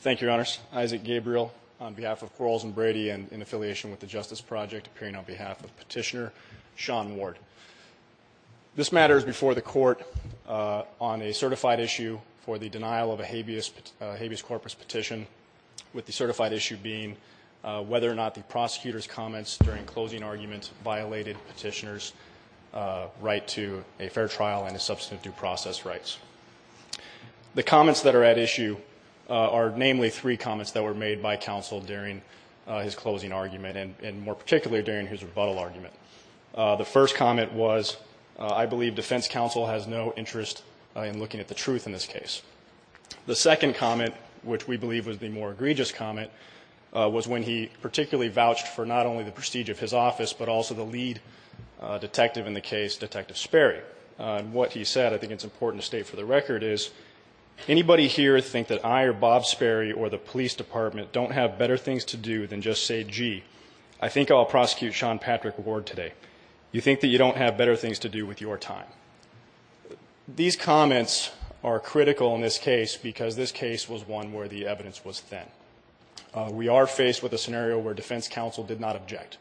Thank you, Your Honors. Isaac Gabriel on behalf of Quarles & Brady and in affiliation with the Justice Project, appearing on behalf of Petitioner Sean Ward. This matter is before the Court on a certified issue for the denial of a habeas corpus petition, with the certified issue being whether or not the prosecutor's comments during closing argument violated Petitioner's right to a fair trial and a substantive due process rights. The comments that are at issue are namely three comments that were made by counsel during his closing argument and more particularly during his rebuttal argument. The first comment was, I believe defense counsel has no interest in looking at the truth in this case. The second comment, which we believe was the more egregious comment, was when he particularly vouched for not only the prestige of his office, but also the lead detective in the case, Detective Sperry. And what he said, I think it's important to state for the record, is anybody here think that I or Bob Sperry or the police department don't have better things to do than just say, gee, I think I'll prosecute Sean Patrick Ward today? You think that you don't have better things to do with your time? These comments are critical in this case because this case was one where the evidence was thin. We are faced with a scenario where defense counsel did not object,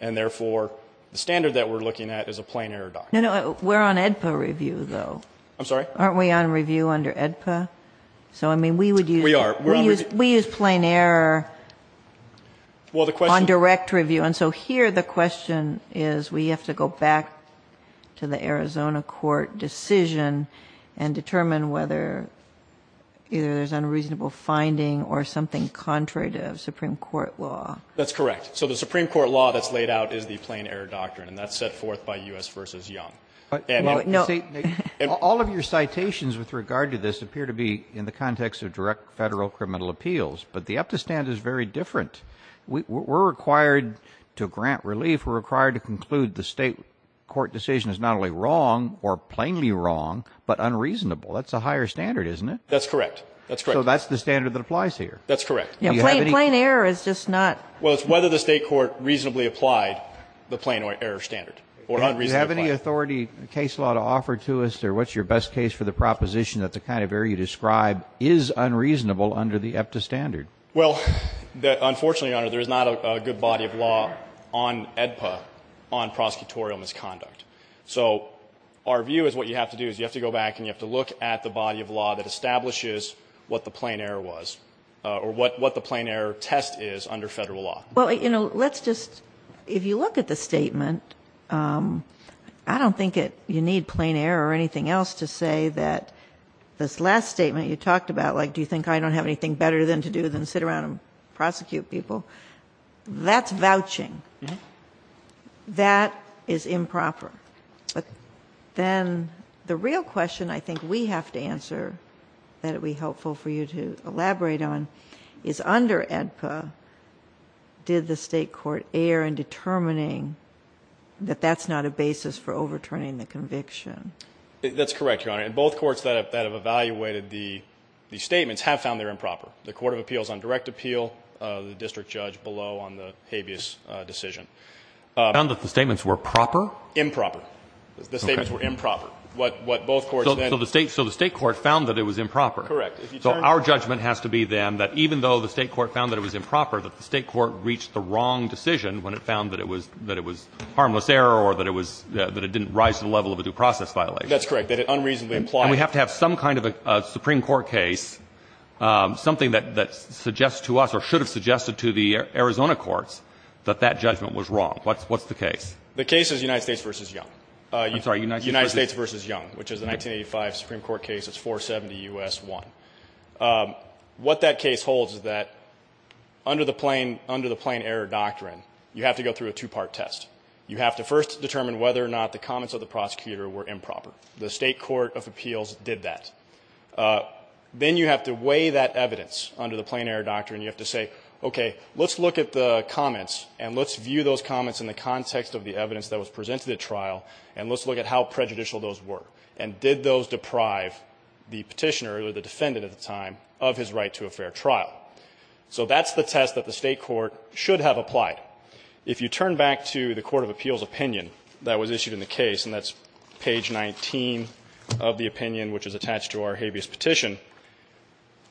and therefore the standard that we're looking at is a plain error document. No, no, we're on AEDPA review, though. I'm sorry? Aren't we on review under AEDPA? So, I mean, we would use plain error on direct review. And so here the question is, we have to go back to the Arizona court decision and determine whether there's unreasonable finding or something contrary to Supreme Court law. That's correct. So the Supreme Court law that's laid out is the plain error doctrine, and that's being set forth by U.S. v. Young. And in the State nation All of your citations with regard to this appear to be in the context of direct Federal criminal appeals, but the AEDPA standard is very different. We're required to grant relief. We're required to conclude the State court decision is not only wrong or plainly wrong, but unreasonable. That's a higher standard, isn't it? That's correct. That's correct. So that's the standard that applies here. That's correct. Plain error is just not Well, it's whether the State court reasonably applied the plain error standard or unreasonably applied. Do you have any authority, case law, to offer to us, or what's your best case for the proposition that the kind of error you describe is unreasonable under the EPTA standard? Well, unfortunately, Your Honor, there is not a good body of law on AEDPA on prosecutorial misconduct. So our view is what you have to do is you have to go back and you have to look at the body of law that establishes what the plain error was or what the plain error test is under Federal law. Well, you know, let's just – if you look at the statement, I don't think you need plain error or anything else to say that this last statement you talked about, like, do you think I don't have anything better to do than sit around and prosecute people, that's vouching. That is improper. Then the real question I think we have to answer that it would be helpful for you to answer is did the State court err in determining that that's not a basis for overturning the conviction? That's correct, Your Honor. And both courts that have evaluated the statements have found they're improper. The Court of Appeals on direct appeal, the district judge below on the habeas decision. Found that the statements were proper? Improper. The statements were improper. What both courts then – So the State court found that it was improper. Correct. So our judgment has to be, then, that even though the State court found that it was improper, that the State court reached the wrong decision when it found that it was – that it was harmless error or that it was – that it didn't rise to the level of a due process violation. That's correct. That it unreasonably implied – And we have to have some kind of a Supreme Court case, something that suggests to us or should have suggested to the Arizona courts that that judgment was wrong. What's the case? The case is United States v. Young. I'm sorry, United States v. Young, which is a 1985 Supreme Court case. It's 470 U.S. 1. What that case holds is that under the plain – under the plain error doctrine, you have to go through a two-part test. You have to first determine whether or not the comments of the prosecutor were improper. The State court of appeals did that. Then you have to weigh that evidence under the plain error doctrine. You have to say, okay, let's look at the comments and let's view those comments in the context of the evidence that was presented at trial, and let's look at how prejudicial those were. And did those deprive the Petitioner or the defendant at the time of his right to a fair trial? So that's the test that the State court should have applied. If you turn back to the court of appeals opinion that was issued in the case, and that's page 19 of the opinion which is attached to our habeas petition,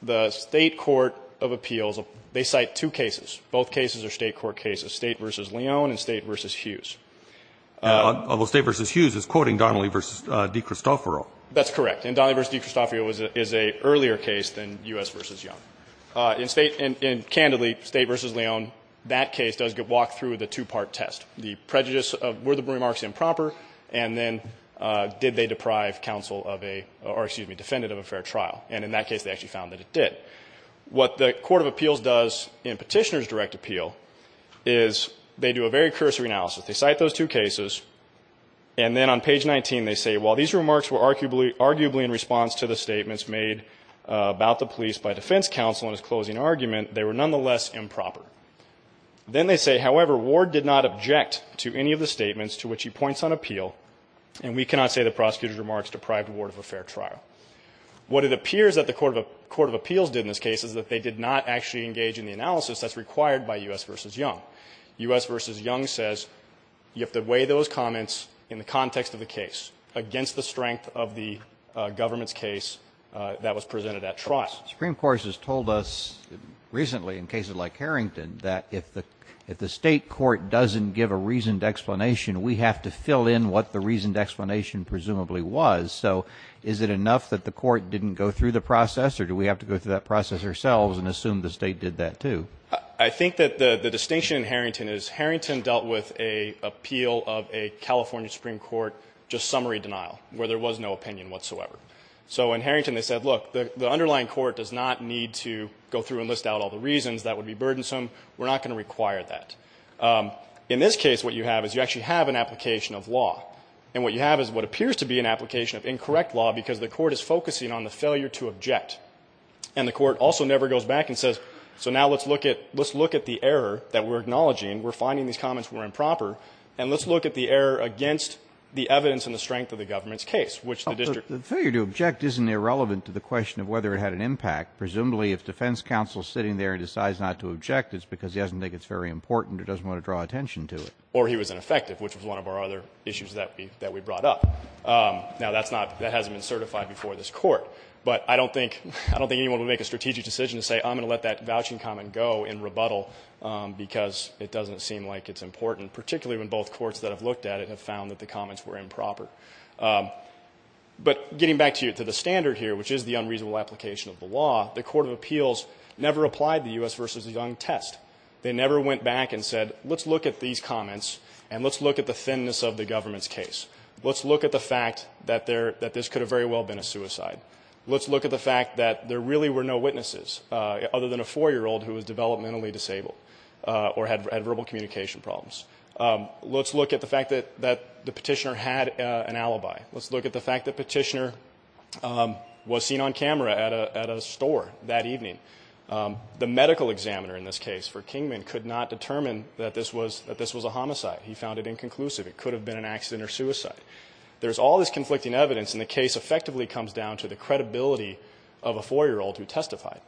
the State court of appeals, they cite two cases, both cases are State court cases, State v. Leon and State v. Hughes. Roberts, State v. Hughes is quoting Donnelly v. DiCristoforo. That's correct. And Donnelly v. DiCristoforo is an earlier case than U.S. v. Young. In State and, candidly, State v. Leon, that case does walk through the two-part test. The prejudice of were the remarks improper, and then did they deprive counsel of a or, excuse me, defendant of a fair trial. And in that case, they actually found that it did. What the court of appeals does in Petitioner's direct appeal is they do a very cursory analysis. They cite those two cases, and then on page 19, they say, while these remarks were arguably in response to the statements made about the police by defense counsel in his closing argument, they were nonetheless improper. Then they say, however, Ward did not object to any of the statements to which he points on appeal, and we cannot say the prosecutor's remarks deprived Ward of a fair trial. What it appears that the court of appeals did in this case is that they did not actually engage in the analysis that's required by U.S. v. Young. U.S. v. Young says you have to weigh those comments in the context of the case against the strength of the government's case that was presented at trial. Supreme Court has told us recently in cases like Harrington that if the State court doesn't give a reasoned explanation, we have to fill in what the reasoned explanation presumably was. So is it enough that the court didn't go through the process, or do we have to go through that process ourselves and assume the State did that, too? I think that the distinction in Harrington is Harrington dealt with an appeal of a California supreme court, just summary denial, where there was no opinion whatsoever. So in Harrington they said, look, the underlying court does not need to go through and list out all the reasons, that would be burdensome, we're not going to require that. In this case, what you have is you actually have an application of law, and what you have is what appears to be an application of incorrect law because the court is focusing on the failure to object. And the court also never goes back and says, so now let's look at the error that we're acknowledging, we're finding these comments were improper, and let's look at the error against the evidence and the strength of the government's case, which the district. The failure to object isn't irrelevant to the question of whether it had an impact. Presumably, if defense counsel is sitting there and decides not to object, it's because he doesn't think it's very important or doesn't want to draw attention to it. Or he was ineffective, which was one of our other issues that we brought up. Now, that's not that hasn't been certified before this court. But I don't think anyone would make a strategic decision to say, I'm going to let that vouching comment go in rebuttal because it doesn't seem like it's important, particularly when both courts that have looked at it have found that the comments were improper. But getting back to the standard here, which is the unreasonable application of the law, the court of appeals never applied the U.S. v. Young test. They never went back and said, let's look at these comments and let's look at the thinness of the government's case. Let's look at the fact that this could have very well been a suicide. Let's look at the fact that there really were no witnesses other than a 4-year-old who was developmentally disabled or had verbal communication problems. Let's look at the fact that the Petitioner had an alibi. Let's look at the fact that Petitioner was seen on camera at a store that evening. The medical examiner in this case for Kingman could not determine that this was a homicide. He found it inconclusive. It could have been an accident or suicide. There's all this conflicting evidence, and the case effectively comes down to the credibility of a 4-year-old who testified.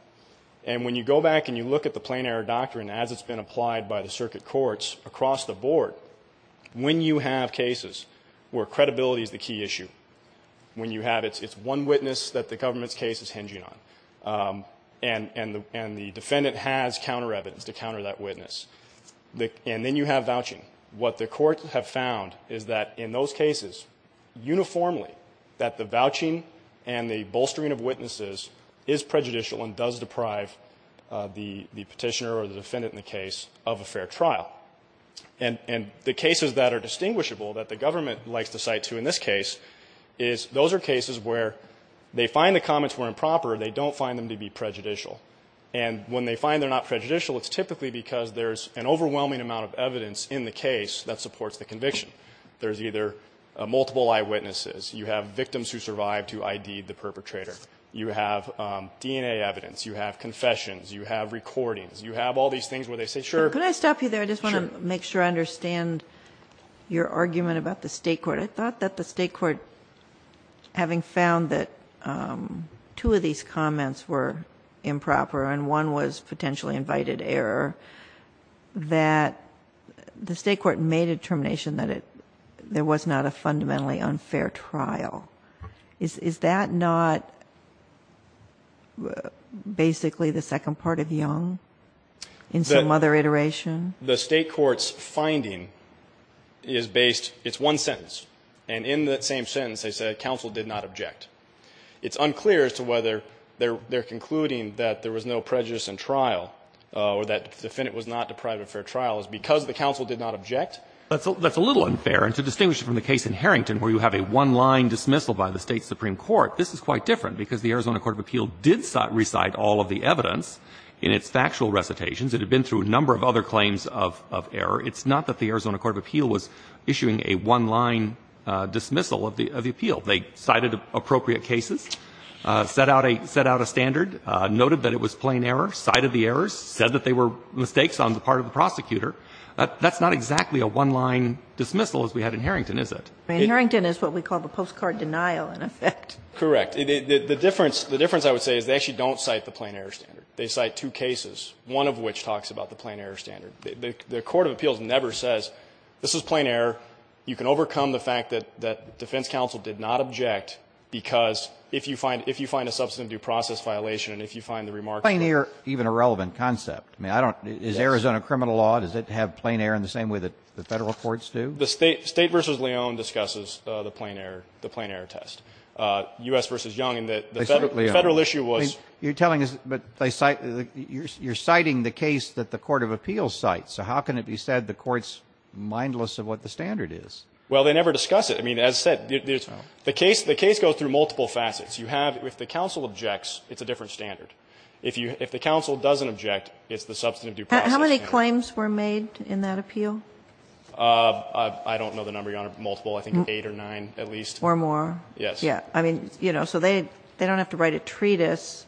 And when you go back and you look at the Plain Air Doctrine as it's been applied by the circuit courts across the board, when you have cases where credibility is the key issue, when you have it's one witness that the government's case is hinging on, and the defendant has counter-evidence to counter that witness, and then you have vouching, what the courts have found is that in those cases, if the defendant is found guilty, it is uniformly that the vouching and the bolstering of witnesses is prejudicial and does deprive the Petitioner or the defendant in the case of a fair trial. And the cases that are distinguishable that the government likes to cite, too, in this case, is those are cases where they find the comments were improper, they don't find them to be prejudicial. And when they find they're not prejudicial, it's typically because there's an overwhelming amount of evidence in the case that supports the conviction. There's either multiple eyewitnesses, you have victims who survived who I.D.'d the perpetrator, you have DNA evidence, you have confessions, you have recordings, you have all these things where they say, sure. Kagan. Ginsburg. Could I stop you there? I just want to make sure I understand your argument about the State court. I thought that the State court, having found that two of these comments were improper and one was potentially invited error, that the State court made a determination that there was not a fundamentally unfair trial. Is that not basically the second part of Young in some other iteration? The State court's finding is based, it's one sentence, and in that same sentence they say counsel did not object. It's unclear as to whether they're concluding that there was no prejudice in trial or that the defendant was not deprived of fair trial. Is it because the counsel did not object? That's a little unfair. And to distinguish it from the case in Harrington where you have a one-line dismissal by the State supreme court, this is quite different because the Arizona court of appeal did recite all of the evidence in its factual recitations. It had been through a number of other claims of error. It's not that the Arizona court of appeal was issuing a one-line dismissal of the appeal. They cited appropriate cases, set out a standard, noted that it was plain error, cited the errors, said that they were mistakes on the part of the prosecutor. That's not exactly a one-line dismissal as we had in Harrington, is it? Harrington is what we call the postcard denial, in effect. Correct. The difference, the difference I would say is they actually don't cite the plain error standard. They cite two cases, one of which talks about the plain error standard. The court of appeals never says this is plain error. You can overcome the fact that defense counsel did not object because if you find a substantive due process violation and if you find the remarks of the plaintiff are irrelevant. So it's an irrelevant concept. I mean, I don't, is Arizona criminal law, does it have plain error in the same way that the Federal courts do? The State v. Leone discusses the plain error, the plain error test. U.S. v. Young in that the Federal issue was. You're telling us, but they cite, you're citing the case that the court of appeals cites, so how can it be said the court's mindless of what the standard is? Well, they never discuss it. I mean, as I said, the case, the case goes through multiple facets. You have, if the counsel objects, it's a different standard. If you, if the counsel doesn't object, it's the substantive due process. How many claims were made in that appeal? I don't know the number, Your Honor, multiple, I think eight or nine at least. Or more. Yes. Yeah. I mean, you know, so they, they don't have to write a treatise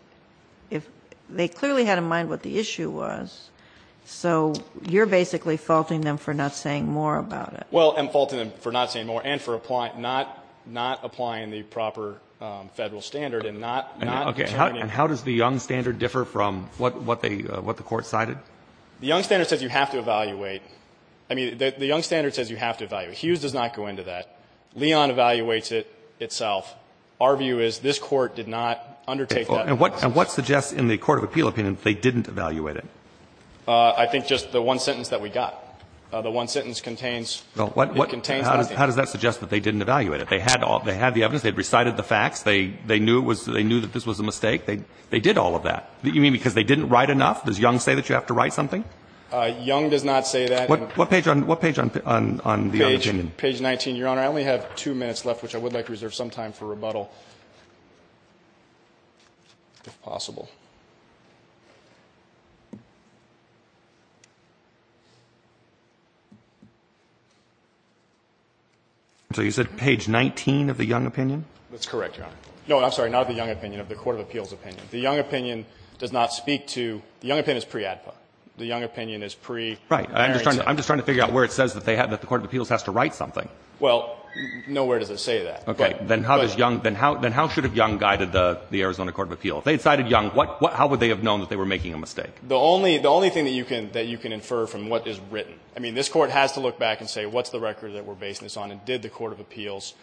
if, they clearly had in mind what the issue was, so you're basically faulting them for not saying more about it. Well, I'm faulting them for not saying more and for applying, not, not applying the proper Federal standard and not, not turning. And how does the Young standard differ from what, what they, what the court cited? The Young standard says you have to evaluate. I mean, the Young standard says you have to evaluate. Hughes does not go into that. Leon evaluates it itself. Our view is this Court did not undertake that. And what, and what suggests in the court of appeal opinion that they didn't evaluate it? I think just the one sentence that we got. The one sentence contains, it contains nothing. How does that suggest that they didn't evaluate it? They had all, they had the evidence. They had recited the facts. They, they knew it was, they knew that this was a mistake. They, they did all of that. You mean because they didn't write enough? Does Young say that you have to write something? Young does not say that. What page on, what page on, on, on the Young opinion? Page, page 19, Your Honor. I only have two minutes left, which I would like to reserve some time for rebuttal if possible. So you said page 19 of the Young opinion? That's correct, Your Honor. No, I'm sorry, not of the Young opinion, of the court of appeals opinion. The Young opinion does not speak to, the Young opinion is pre-ADPA. The Young opinion is pre-Maryson. Right. I'm just trying, I'm just trying to figure out where it says that they had, that the court of appeals has to write something. Well, nowhere does it say that. Okay. Then how does Young, then how, then how should have Young guided the, the Arizona court of appeal? If they had cited Young, what, what, how would they have known that they were making a mistake? The only, the only thing that you can, that you can infer from what is written. I mean, this Court has to look back and say what's the record that we're basing this on? And did the court of appeals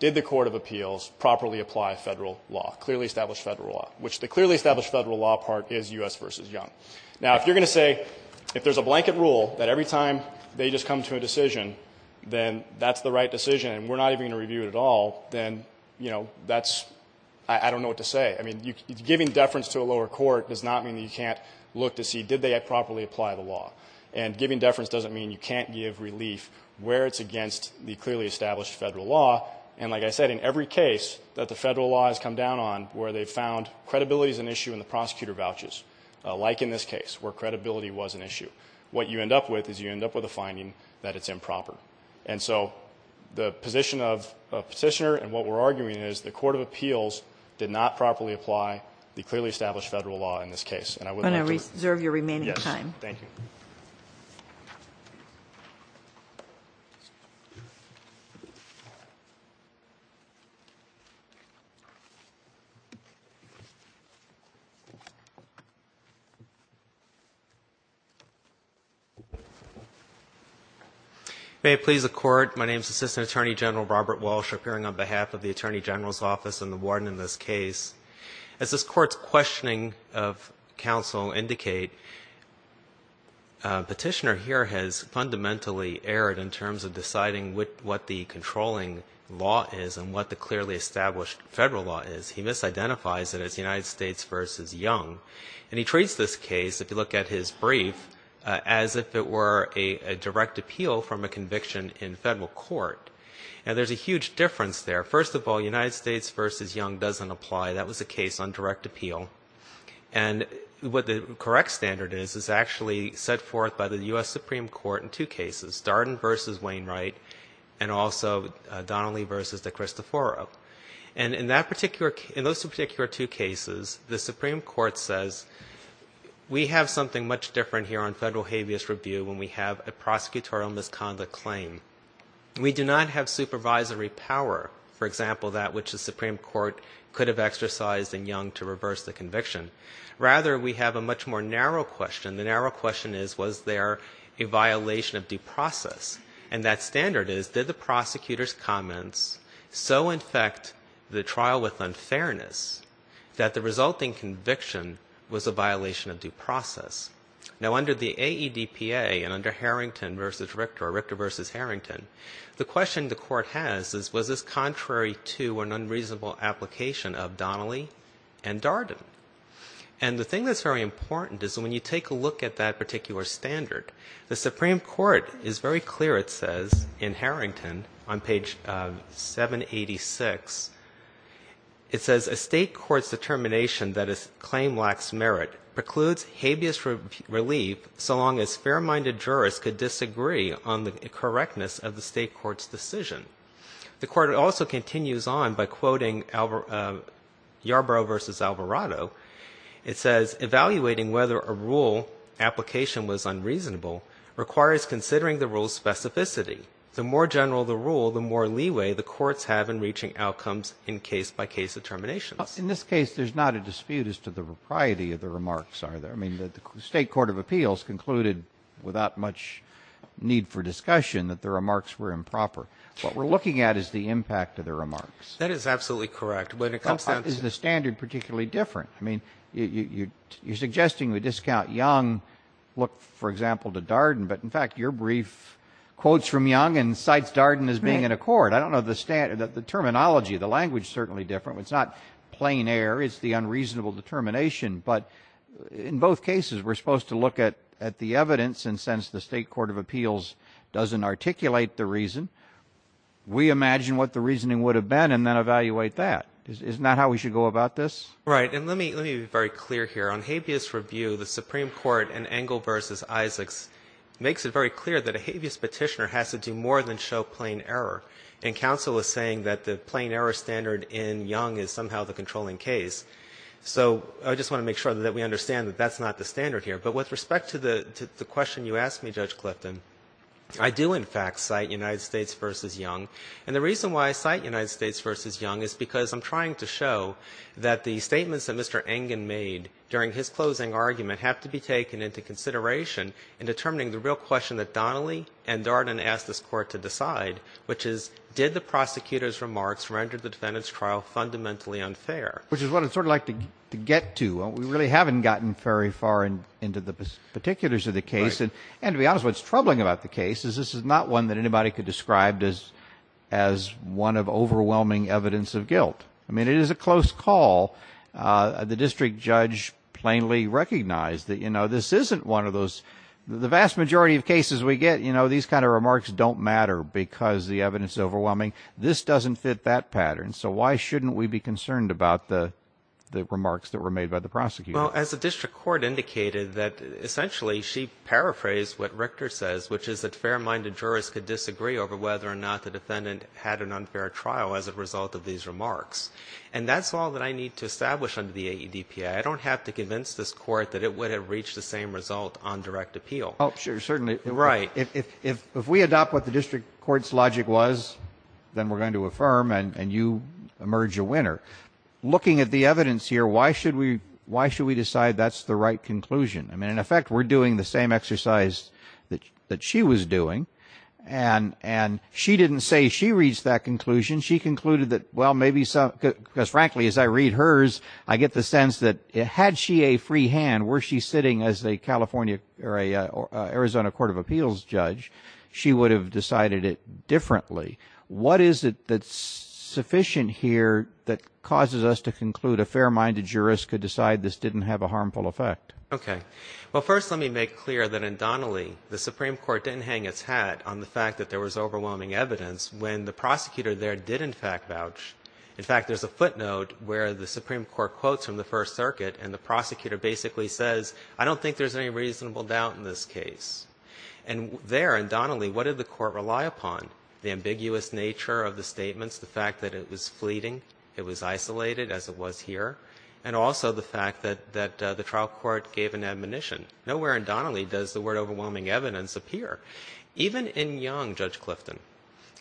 did the court of appeals properly apply federal law, clearly established federal law, which the clearly established federal law part is U.S. versus Young. Now, if you're going to say, if there's a blanket rule that every time they just come to a decision, then that's the right decision. And we're not even going to review it at all. Then, you know, that's, I don't know what to say. I mean, you giving deference to a lower court does not mean that you can't look to see, did they properly apply the law and giving deference doesn't mean you can't give relief where it's against the clearly established federal law. And like I said, in every case that the federal law has come down on where they've found credibility is an issue in the prosecutor vouchers, like in this case where credibility was an issue, what you end up with is you end up with a finding that it's improper. And so the position of, of Petitioner and what we're arguing is the court of appeals did not properly apply the clearly established federal law in this case. And I would like to reserve your remaining time. Thank you. May it please the Court. My name is Assistant Attorney General Robert Walsh, appearing on behalf of the Attorney General's Office and the Warden in this case. As this court's questioning of counsel indicate, Petitioner here has fundamentally erred in terms of deciding what the controlling law is and what the clearly established federal law is. He misidentifies it as United States v. Young, and he treats this case, if you look at his brief, as if it were a direct appeal from a conviction in federal court. And there's a huge difference there. First of all, United States v. Young doesn't apply. That was a case on direct appeal. And what the correct standard is, is actually set forth by the U.S. Supreme Court in two cases, Darden v. Wainwright, and also Donnelly v. DeChristoforo. And in that particular, in those particular two cases, the Supreme Court says, we have something much different here on federal habeas review when we have a prosecutorial misconduct claim. We do not have supervisory power. For example, that which the Supreme Court could have exercised in Young to reverse the conviction. Rather, we have a much more narrow question. The narrow question is, was there a violation of due process? And that standard is, did the prosecutor's comments so infect the trial with unfairness that the resulting conviction was a violation of due process? Now, under the AEDPA and under Harrington v. Richter, or Richter v. Wainwright, that is contrary to an unreasonable application of Donnelly and Darden. And the thing that's very important is when you take a look at that particular standard, the Supreme Court is very clear. It says in Harrington on page 786, it says a state court's determination that a claim lacks merit precludes habeas relief so long as fair-minded jurists could disagree on the correctness of the state court's decision. The court also continues on by quoting Yarbrough v. Alvarado. It says, evaluating whether a rule application was unreasonable requires considering the rule's specificity. The more general the rule, the more leeway the courts have in reaching outcomes in case-by-case determinations. In this case, there's not a dispute as to the propriety of the remarks, are there? I mean, the state court of appeals concluded without much need for discussion that the remarks were improper. What we're looking at is the impact of the remarks. That is absolutely correct. But in a couple of instances. But is the standard particularly different? I mean, you're suggesting we discount Young, look, for example, to Darden. But in fact, your brief quotes from Young and cites Darden as being in accord. I don't know the terminology. The language is certainly different. It's not plain air. It's the unreasonable determination. But in both cases, we're supposed to look at the evidence and sense the state court of appeals doesn't articulate the reason. We imagine what the reasoning would have been and then evaluate that. Isn't that how we should go about this? Right. And let me be very clear here. On habeas review, the Supreme Court in Engle v. Isaacs makes it very clear that a habeas petitioner has to do more than show plain error. And counsel is saying that the plain error standard in Young is somehow the controlling case. So I just want to make sure that we understand that that's not the standard here. But with respect to the question you asked me, Judge Clifton, I do in fact cite United States v. Young. And the reason why I cite United States v. Young is because I'm trying to show that the statements that Mr. Engen made during his closing argument have to be taken into consideration in determining the real question that Donnelly and Darden asked this court to decide, which is, did the prosecutor's remarks render the defendant's trial fundamentally unfair? Which is what I'd sort of like to get to. We really haven't gotten very far into the particulars of the case. And to be honest, what's troubling about the case is this is not one that anybody could describe as as one of overwhelming evidence of guilt. I mean, it is a close call. The district judge plainly recognized that, you know, this isn't one of those the vast majority of cases we get, you know, these kind of remarks don't matter because the evidence is overwhelming. This doesn't fit that pattern. So why shouldn't we be concerned about the remarks that were made by the prosecutor? Well, as a district court indicated that essentially she paraphrased what Richter says, which is that fair-minded jurors could disagree over whether or not the defendant had an unfair trial as a result of these remarks. And that's all that I need to establish under the AEDPA. I don't have to convince this court that it would have reached the same result on direct appeal. Oh, sure. Certainly right. If if if we adopt what the district court's logic was, then we're going to affirm and you emerge a winner. Looking at the evidence here, why should we why should we decide that's the right conclusion? I mean, in effect, we're doing the same exercise that that she was doing. And and she didn't say she reached that conclusion. She concluded that, well, maybe so, because frankly, as I read hers, I get the sense that it had she a free hand, were she sitting as a California or a Arizona court of appeals judge, she would have decided it differently. What is it that's sufficient here that causes us to conclude a fair-minded jurist could decide this didn't have a harmful effect? Okay. Well, first, let me make clear that in Donnelly, the Supreme Court didn't hang its hat on the fact that there was overwhelming evidence when the prosecutor there did in fact vouch. In fact, there's a footnote where the Supreme Court quotes from the First Circuit and the prosecutor basically says, I don't think there's any reasonable doubt in this case. And there in Donnelly, what did the court rely upon? The ambiguous nature of the statements, the fact that it was fleeting, it was isolated as it was here, and also the fact that the trial court gave an admonition. Nowhere in Donnelly does the word overwhelming evidence appear. Even in Young, Judge Clifton,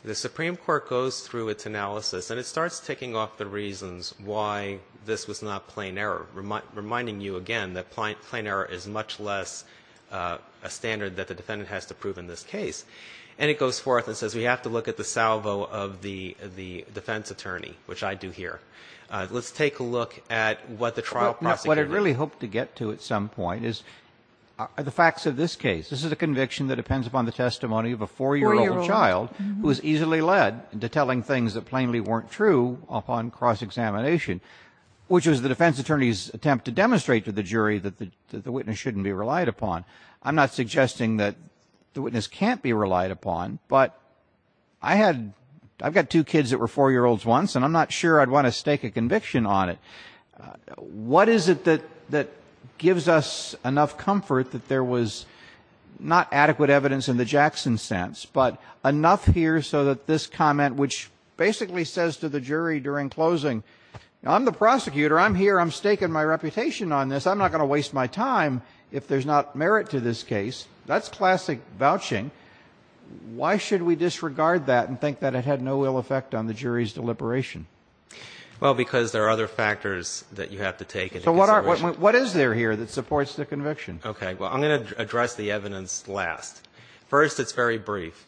the Supreme Court goes through its analysis and it starts ticking off the reasons why this was not plain error, reminding you again that plain error is much less a standard that the defendant has to prove in this case. And it goes forth and says, we have to look at the salvo of the defense attorney, which I do here. Let's take a look at what the trial prosecutor really hoped to get to at some point is the facts of this case. This is a conviction that depends upon the testimony of a four-year-old child who was easily led into telling things that plainly weren't true upon cross-examination, which was the defense attorney's attempt to demonstrate to the jury that the witness shouldn't be relied upon. I'm not suggesting that the witness can't be relied upon, but I had, I've got two three-year-olds once, and I'm not sure I'd want to stake a conviction on it. What is it that, that gives us enough comfort that there was not adequate evidence in the Jackson sense, but enough here so that this comment, which basically says to the jury during closing, I'm the prosecutor. I'm here. I'm staking my reputation on this. I'm not going to waste my time if there's not merit to this case. That's classic vouching. Why should we disregard that and think that it had no ill effect on the jury's deliberation? Well, because there are other factors that you have to take into consideration. So what are, what is there here that supports the conviction? Okay. Well, I'm going to address the evidence last. First, it's very brief.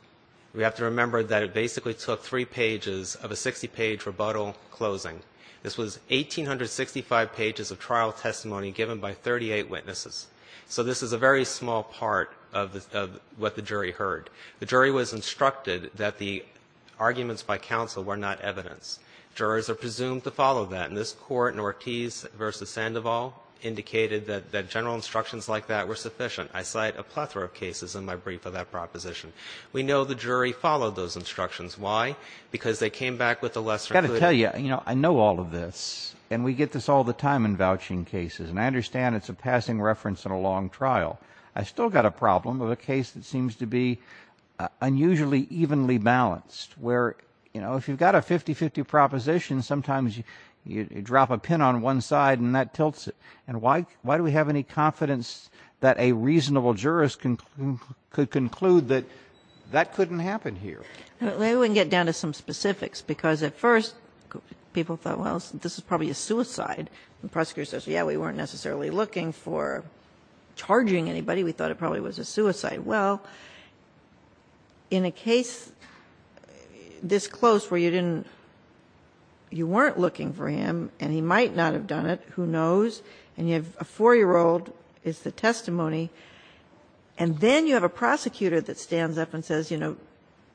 We have to remember that it basically took three pages of a 60-page rebuttal closing. This was 1,865 pages of trial testimony given by 38 witnesses. So this is a very small part of the, of what the jury heard. The jury was instructed that the arguments by counsel were not evidence. Jurors are presumed to follow that. And this Court in Ortiz v. Sandoval indicated that, that general instructions like that were sufficient. I cite a plethora of cases in my brief of that proposition. We know the jury followed those instructions. Why? Because they came back with a lesser clear. I've got to tell you, you know, I know all of this, and we get this all the time in vouching cases. And I understand it's a passing reference in a long trial. I still got a problem of a case that seems to be unusually evenly balanced, where, you know, if you've got a 50-50 proposition, sometimes you, you drop a pin on one side and that tilts it. And why, why do we have any confidence that a reasonable jurist can, could conclude that that couldn't happen here? Maybe we can get down to some specifics, because at first people thought, well, this is probably a suicide. The prosecutor says, yeah, we weren't necessarily looking for charging anybody. We thought it probably was a suicide. Well, in a case this close where you didn't, you weren't looking for him, and he might not have done it, who knows, and you have a 4-year-old is the testimony, and then you have a prosecutor that stands up and says, you know,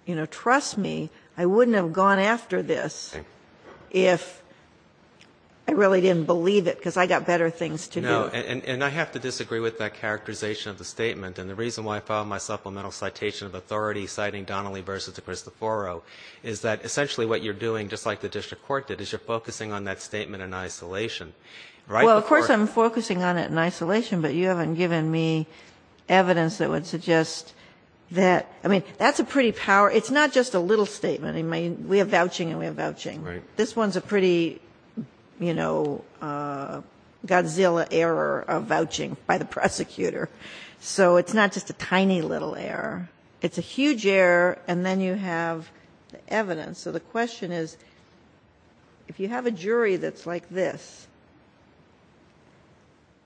you know, trust me, I wouldn't have gone after this if I really didn't believe it, because I got better things to do. No, and I have to disagree with that characterization of the statement. And the reason why I filed my supplemental citation of authority citing Donnelly v. DeCristoforo is that essentially what you're doing, just like the district court did, is you're focusing on that statement in isolation. Well, of course I'm focusing on it in isolation, but you haven't given me evidence that would suggest that, I mean, that's a pretty power, it's not just a little statement, I mean, we have vouching and we have vouching. Right. This one's a pretty, you know, Godzilla error of vouching by the prosecutor. So it's not just a tiny little error. It's a huge error, and then you have the evidence. So the question is, if you have a jury that's like this,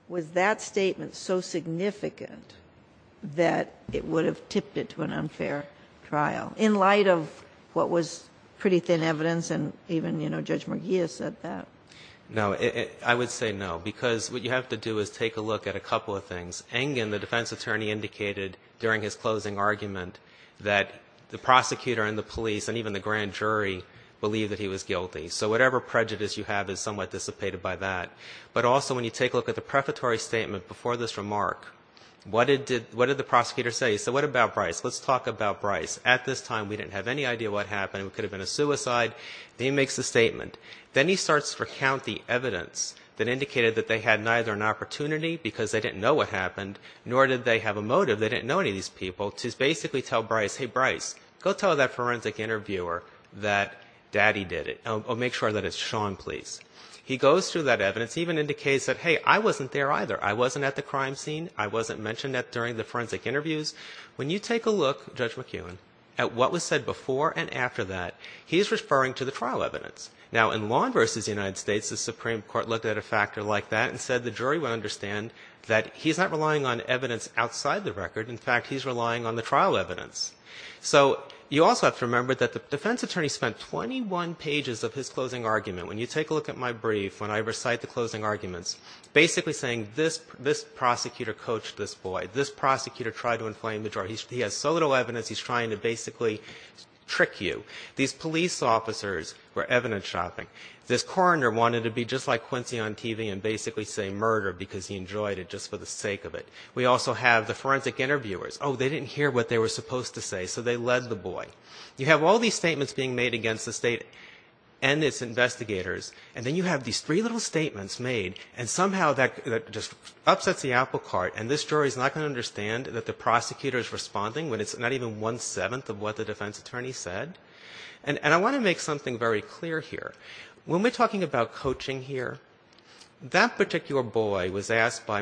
was that statement so significant that it would have tipped it to an unfair trial in light of what was pretty thin evidence, and even, you know, Judge McGee has said that? No, I would say no, because what you have to do is take a look at a couple of things. Engen, the defense attorney, indicated during his closing argument that the prosecutor and the police and even the grand jury believed that he was guilty. So whatever prejudice you have is somewhat dissipated by that. But also when you take a look at the prefatory statement before this remark, what did the prosecutor say? He said, what about Bryce? Let's talk about Bryce. At this time, we didn't have any idea what happened. It could have been a suicide. Then he makes the statement. Then he starts to recount the evidence that indicated that they had neither an opportunity because they didn't know what happened, nor did they have a motive, they didn't know any of these people, to basically tell Bryce, hey, Bryce, go tell that forensic interviewer that daddy did it, or make sure that it's Sean, please. He goes through that evidence, even indicates that, hey, I wasn't there either. I wasn't at the crime scene. I wasn't mentioned during the forensic interviews. When you take a look, Judge McKeown, at what was said before and after that, he's referring to the trial evidence. Now, in Lawn v. United States, the Supreme Court looked at a factor like that and said the jury would understand that he's not relying on evidence outside the record. In fact, he's relying on the trial evidence. So you also have to remember that the defense attorney spent 21 pages of his closing argument. When you take a look at my brief, when I recite the closing arguments, basically saying this prosecutor coached this boy. This prosecutor tried to inflame the jury. He has so little evidence, he's trying to basically trick you. These police officers were evidence shopping. This coroner wanted to be just like Quincy on TV and basically say murder because he enjoyed it just for the sake of it. We also have the forensic interviewers. Oh, they didn't hear what they were supposed to say, so they led the boy. You have all these statements being made against the state and its investigators, and then you have these three little statements made, and somehow that just upsets the apple cart, and this jury's not going to understand that the prosecutor's responding when it's not even one-seventh of what the defense attorney said. And I want to make something very clear here. When we're talking about coaching here, that particular boy was asked by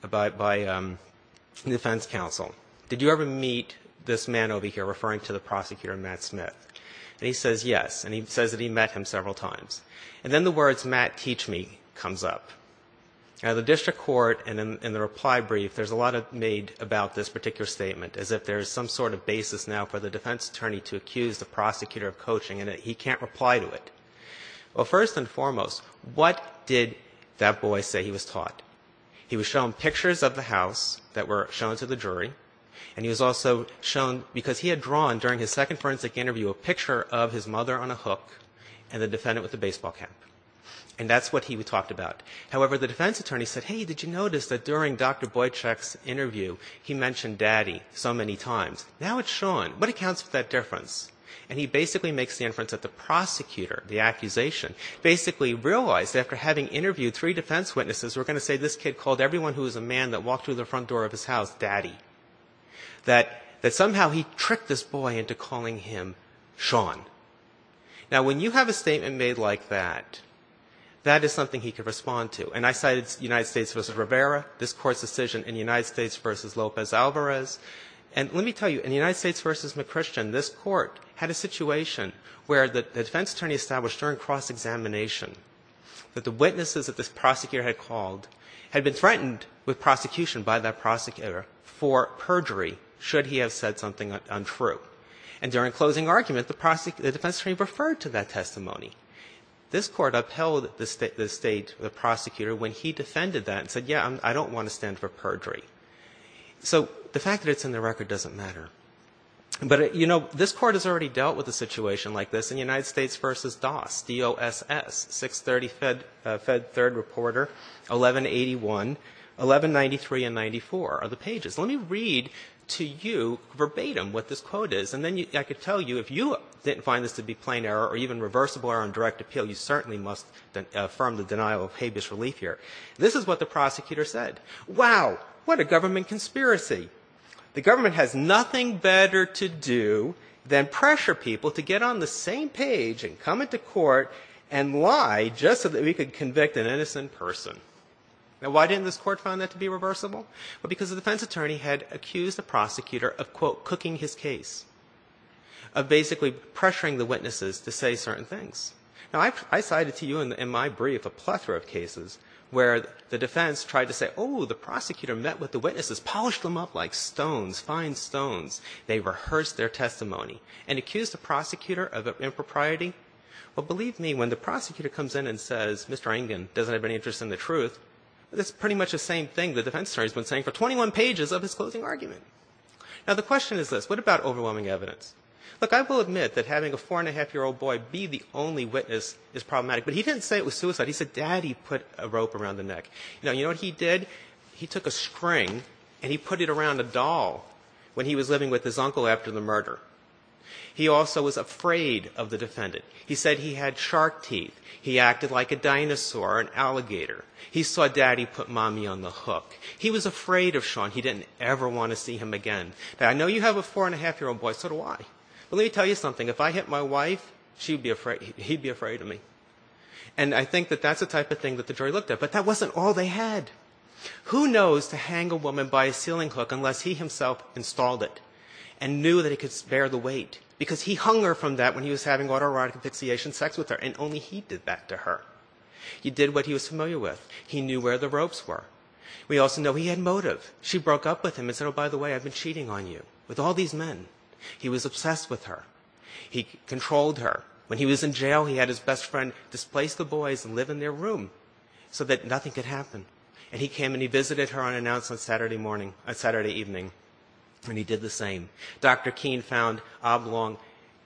the defense counsel, did you ever meet this man over here referring to the prosecutor, Matt Smith? And he says yes, and he says that he met him several times. And then the words, Matt, teach me, comes up. Now, the district court in the reply brief, there's a lot made about this particular statement as if there's some sort of basis now for the defense attorney to accuse the prosecutor of coaching and he can't reply to it. Well, first and foremost, what did that boy say he was taught? He was shown pictures of the house that were shown to the jury, and he was also shown, because he had drawn, during his second forensic interview, a picture of his mother on a hook and the defendant with the baseball cap. And that's what he talked about. However, the defense attorney said, hey, did you notice that during Dr. Boychuk's interview, he mentioned daddy so many times? Now it's shown. What accounts for that difference? And he basically makes the inference that the prosecutor, the accusation, basically realized after having interviewed three defense witnesses, we're going to say this kid called everyone who was a man that walked through the front door of his house daddy. That somehow he tricked this boy into calling him Sean. Now when you have a statement made like that, that is something he could respond to. And I cited United States v. Rivera, this court's decision in United States v. Lopez Alvarez. And let me tell you, in United States v. McChristian, this court had a situation where the defense attorney established during cross-examination that the witnesses that this prosecutor had called had been threatened with prosecution by that prosecutor for perjury, should he have said something untrue. And during closing argument, the defense attorney referred to that testimony. This court upheld the state, the prosecutor, when he defended that and said, yeah, I don't want to stand for perjury. So the fact that it's in the record doesn't matter. But you know, this court has already dealt with a situation like this. In United States v. Doss, D-O-S-S, 630 Fed Third Reporter, 1181, 1193 and 94 are the pages. Let me read to you verbatim what this quote is, and then I can tell you, if you didn't find this to be plain error or even reversible error on direct appeal, you certainly must affirm the denial of habeas relief here. This is what the prosecutor said, wow, what a government conspiracy. The government has nothing better to do than pressure people to get on the same page and come into court and lie just so that we could convict an innocent person. Now why didn't this court find that to be reversible? Well, because the defense attorney had accused the prosecutor of, quote, cooking his case, of basically pressuring the witnesses to say certain things. Now I cited to you in my brief a plethora of cases where the defense tried to say, oh, the prosecutor met with the witnesses, polished them up like stones, fine stones. They rehearsed their testimony and accused the prosecutor of impropriety. Well, believe me, when the prosecutor comes in and says, Mr. Ingin doesn't have any interest in the truth, that's pretty much the same thing the defense attorney has been saying for 21 pages of his closing argument. Now the question is this. What about overwhelming evidence? Look, I will admit that having a four-and-a-half-year-old boy be the only witness is problematic, but he didn't say it was suicide. He said, daddy put a rope around the neck. Now, you know what he did? He took a string and he put it around a doll when he was living with his uncle after the murder. He also was afraid of the defendant. He said he had shark teeth. He acted like a dinosaur, an alligator. He saw daddy put mommy on the hook. He was afraid of Sean. He didn't ever want to see him again. Now, I know you have a four-and-a-half-year-old boy. So do I. But let me tell you something. If I hit my wife, she'd be afraid, he'd be afraid of me. And I think that that's the type of thing that the jury looked at. But that wasn't all they had. Who knows to hang a woman by a ceiling hook unless he himself installed it and knew that he could spare the weight? Because he hung her from that when he was having autoerotic asphyxiation sex with her, and only he did that to her. He did what he was familiar with. He knew where the ropes were. We also know he had motive. She broke up with him and said, oh, by the way, I've been cheating on you with all these men. He was obsessed with her. He controlled her. When he was in jail, he had his best friend displace the boys and live in their room so that nothing could happen. And he came and he visited her on an announcement Saturday morning, Saturday evening, and he did the same. Dr. Keene found oblong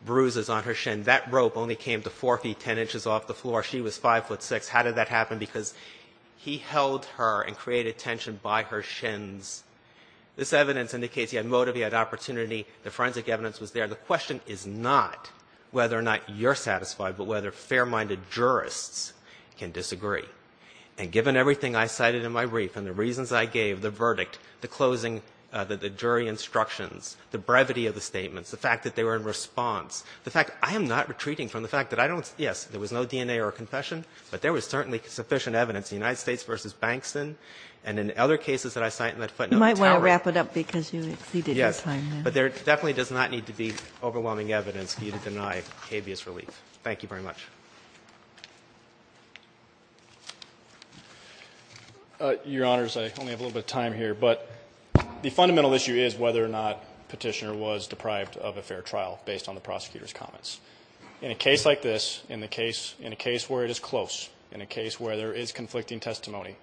bruises on her shin. That rope only came to four feet, ten inches off the floor. She was five foot six. How did that happen? Because he held her and created tension by her shins. This evidence indicates he had motive, he had opportunity. The forensic evidence was there. The question is not whether or not you're satisfied, but whether fair-minded jurists can disagree. And given everything I cited in my brief and the reasons I gave, the verdict, the closing, the jury instructions, the brevity of the statements, the fact that they were in response, the fact I am not retreating from the fact that I don't yes, there was no DNA or confession, but there was certainly sufficient evidence in United States v. Bankston, and in other cases that I cite in that footnote. Kagan, you might want to wrap it up, because you exceeded your time there. Yes, but there definitely does not need to be overwhelming evidence for you to deny habeas relief. Thank you very much. Your Honors, I only have a little bit of time here, but the fundamental issue is whether or not Petitioner was deprived of a fair trial based on the prosecutor's comments. In a case like this, in a case where it is close, in a case where there is conflicting testimony,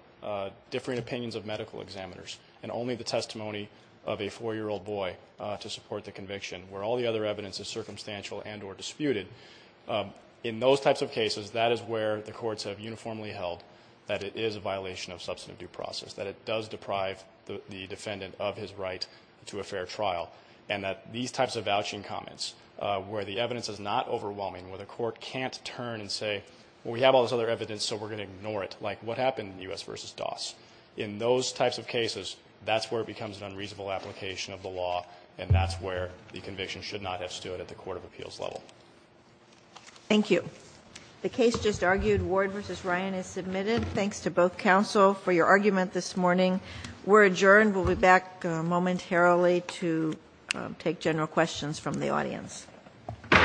differing opinions of medical examiners, and only the testimony of a 4-year-old boy to support the conviction, where all the other evidence is circumstantial and or disputed, in those types of cases, that is where the courts have uniformly held that it is a violation of substantive due process, that it does deprive the defendant of his right to a fair trial, and that these types of vouching comments, where the evidence is not overwhelming, where the court can't turn and say, well, we have all the evidence, what happened in U.S. v. Doss? In those types of cases, that's where it becomes an unreasonable application of the law, and that's where the conviction should not have stood at the court of appeals level. Thank you. The case just argued, Ward v. Ryan, is submitted. Thanks to both counsel for your argument this morning. We're adjourned. We'll be back momentarily to take general questions from the audience. Thank you. Thank you.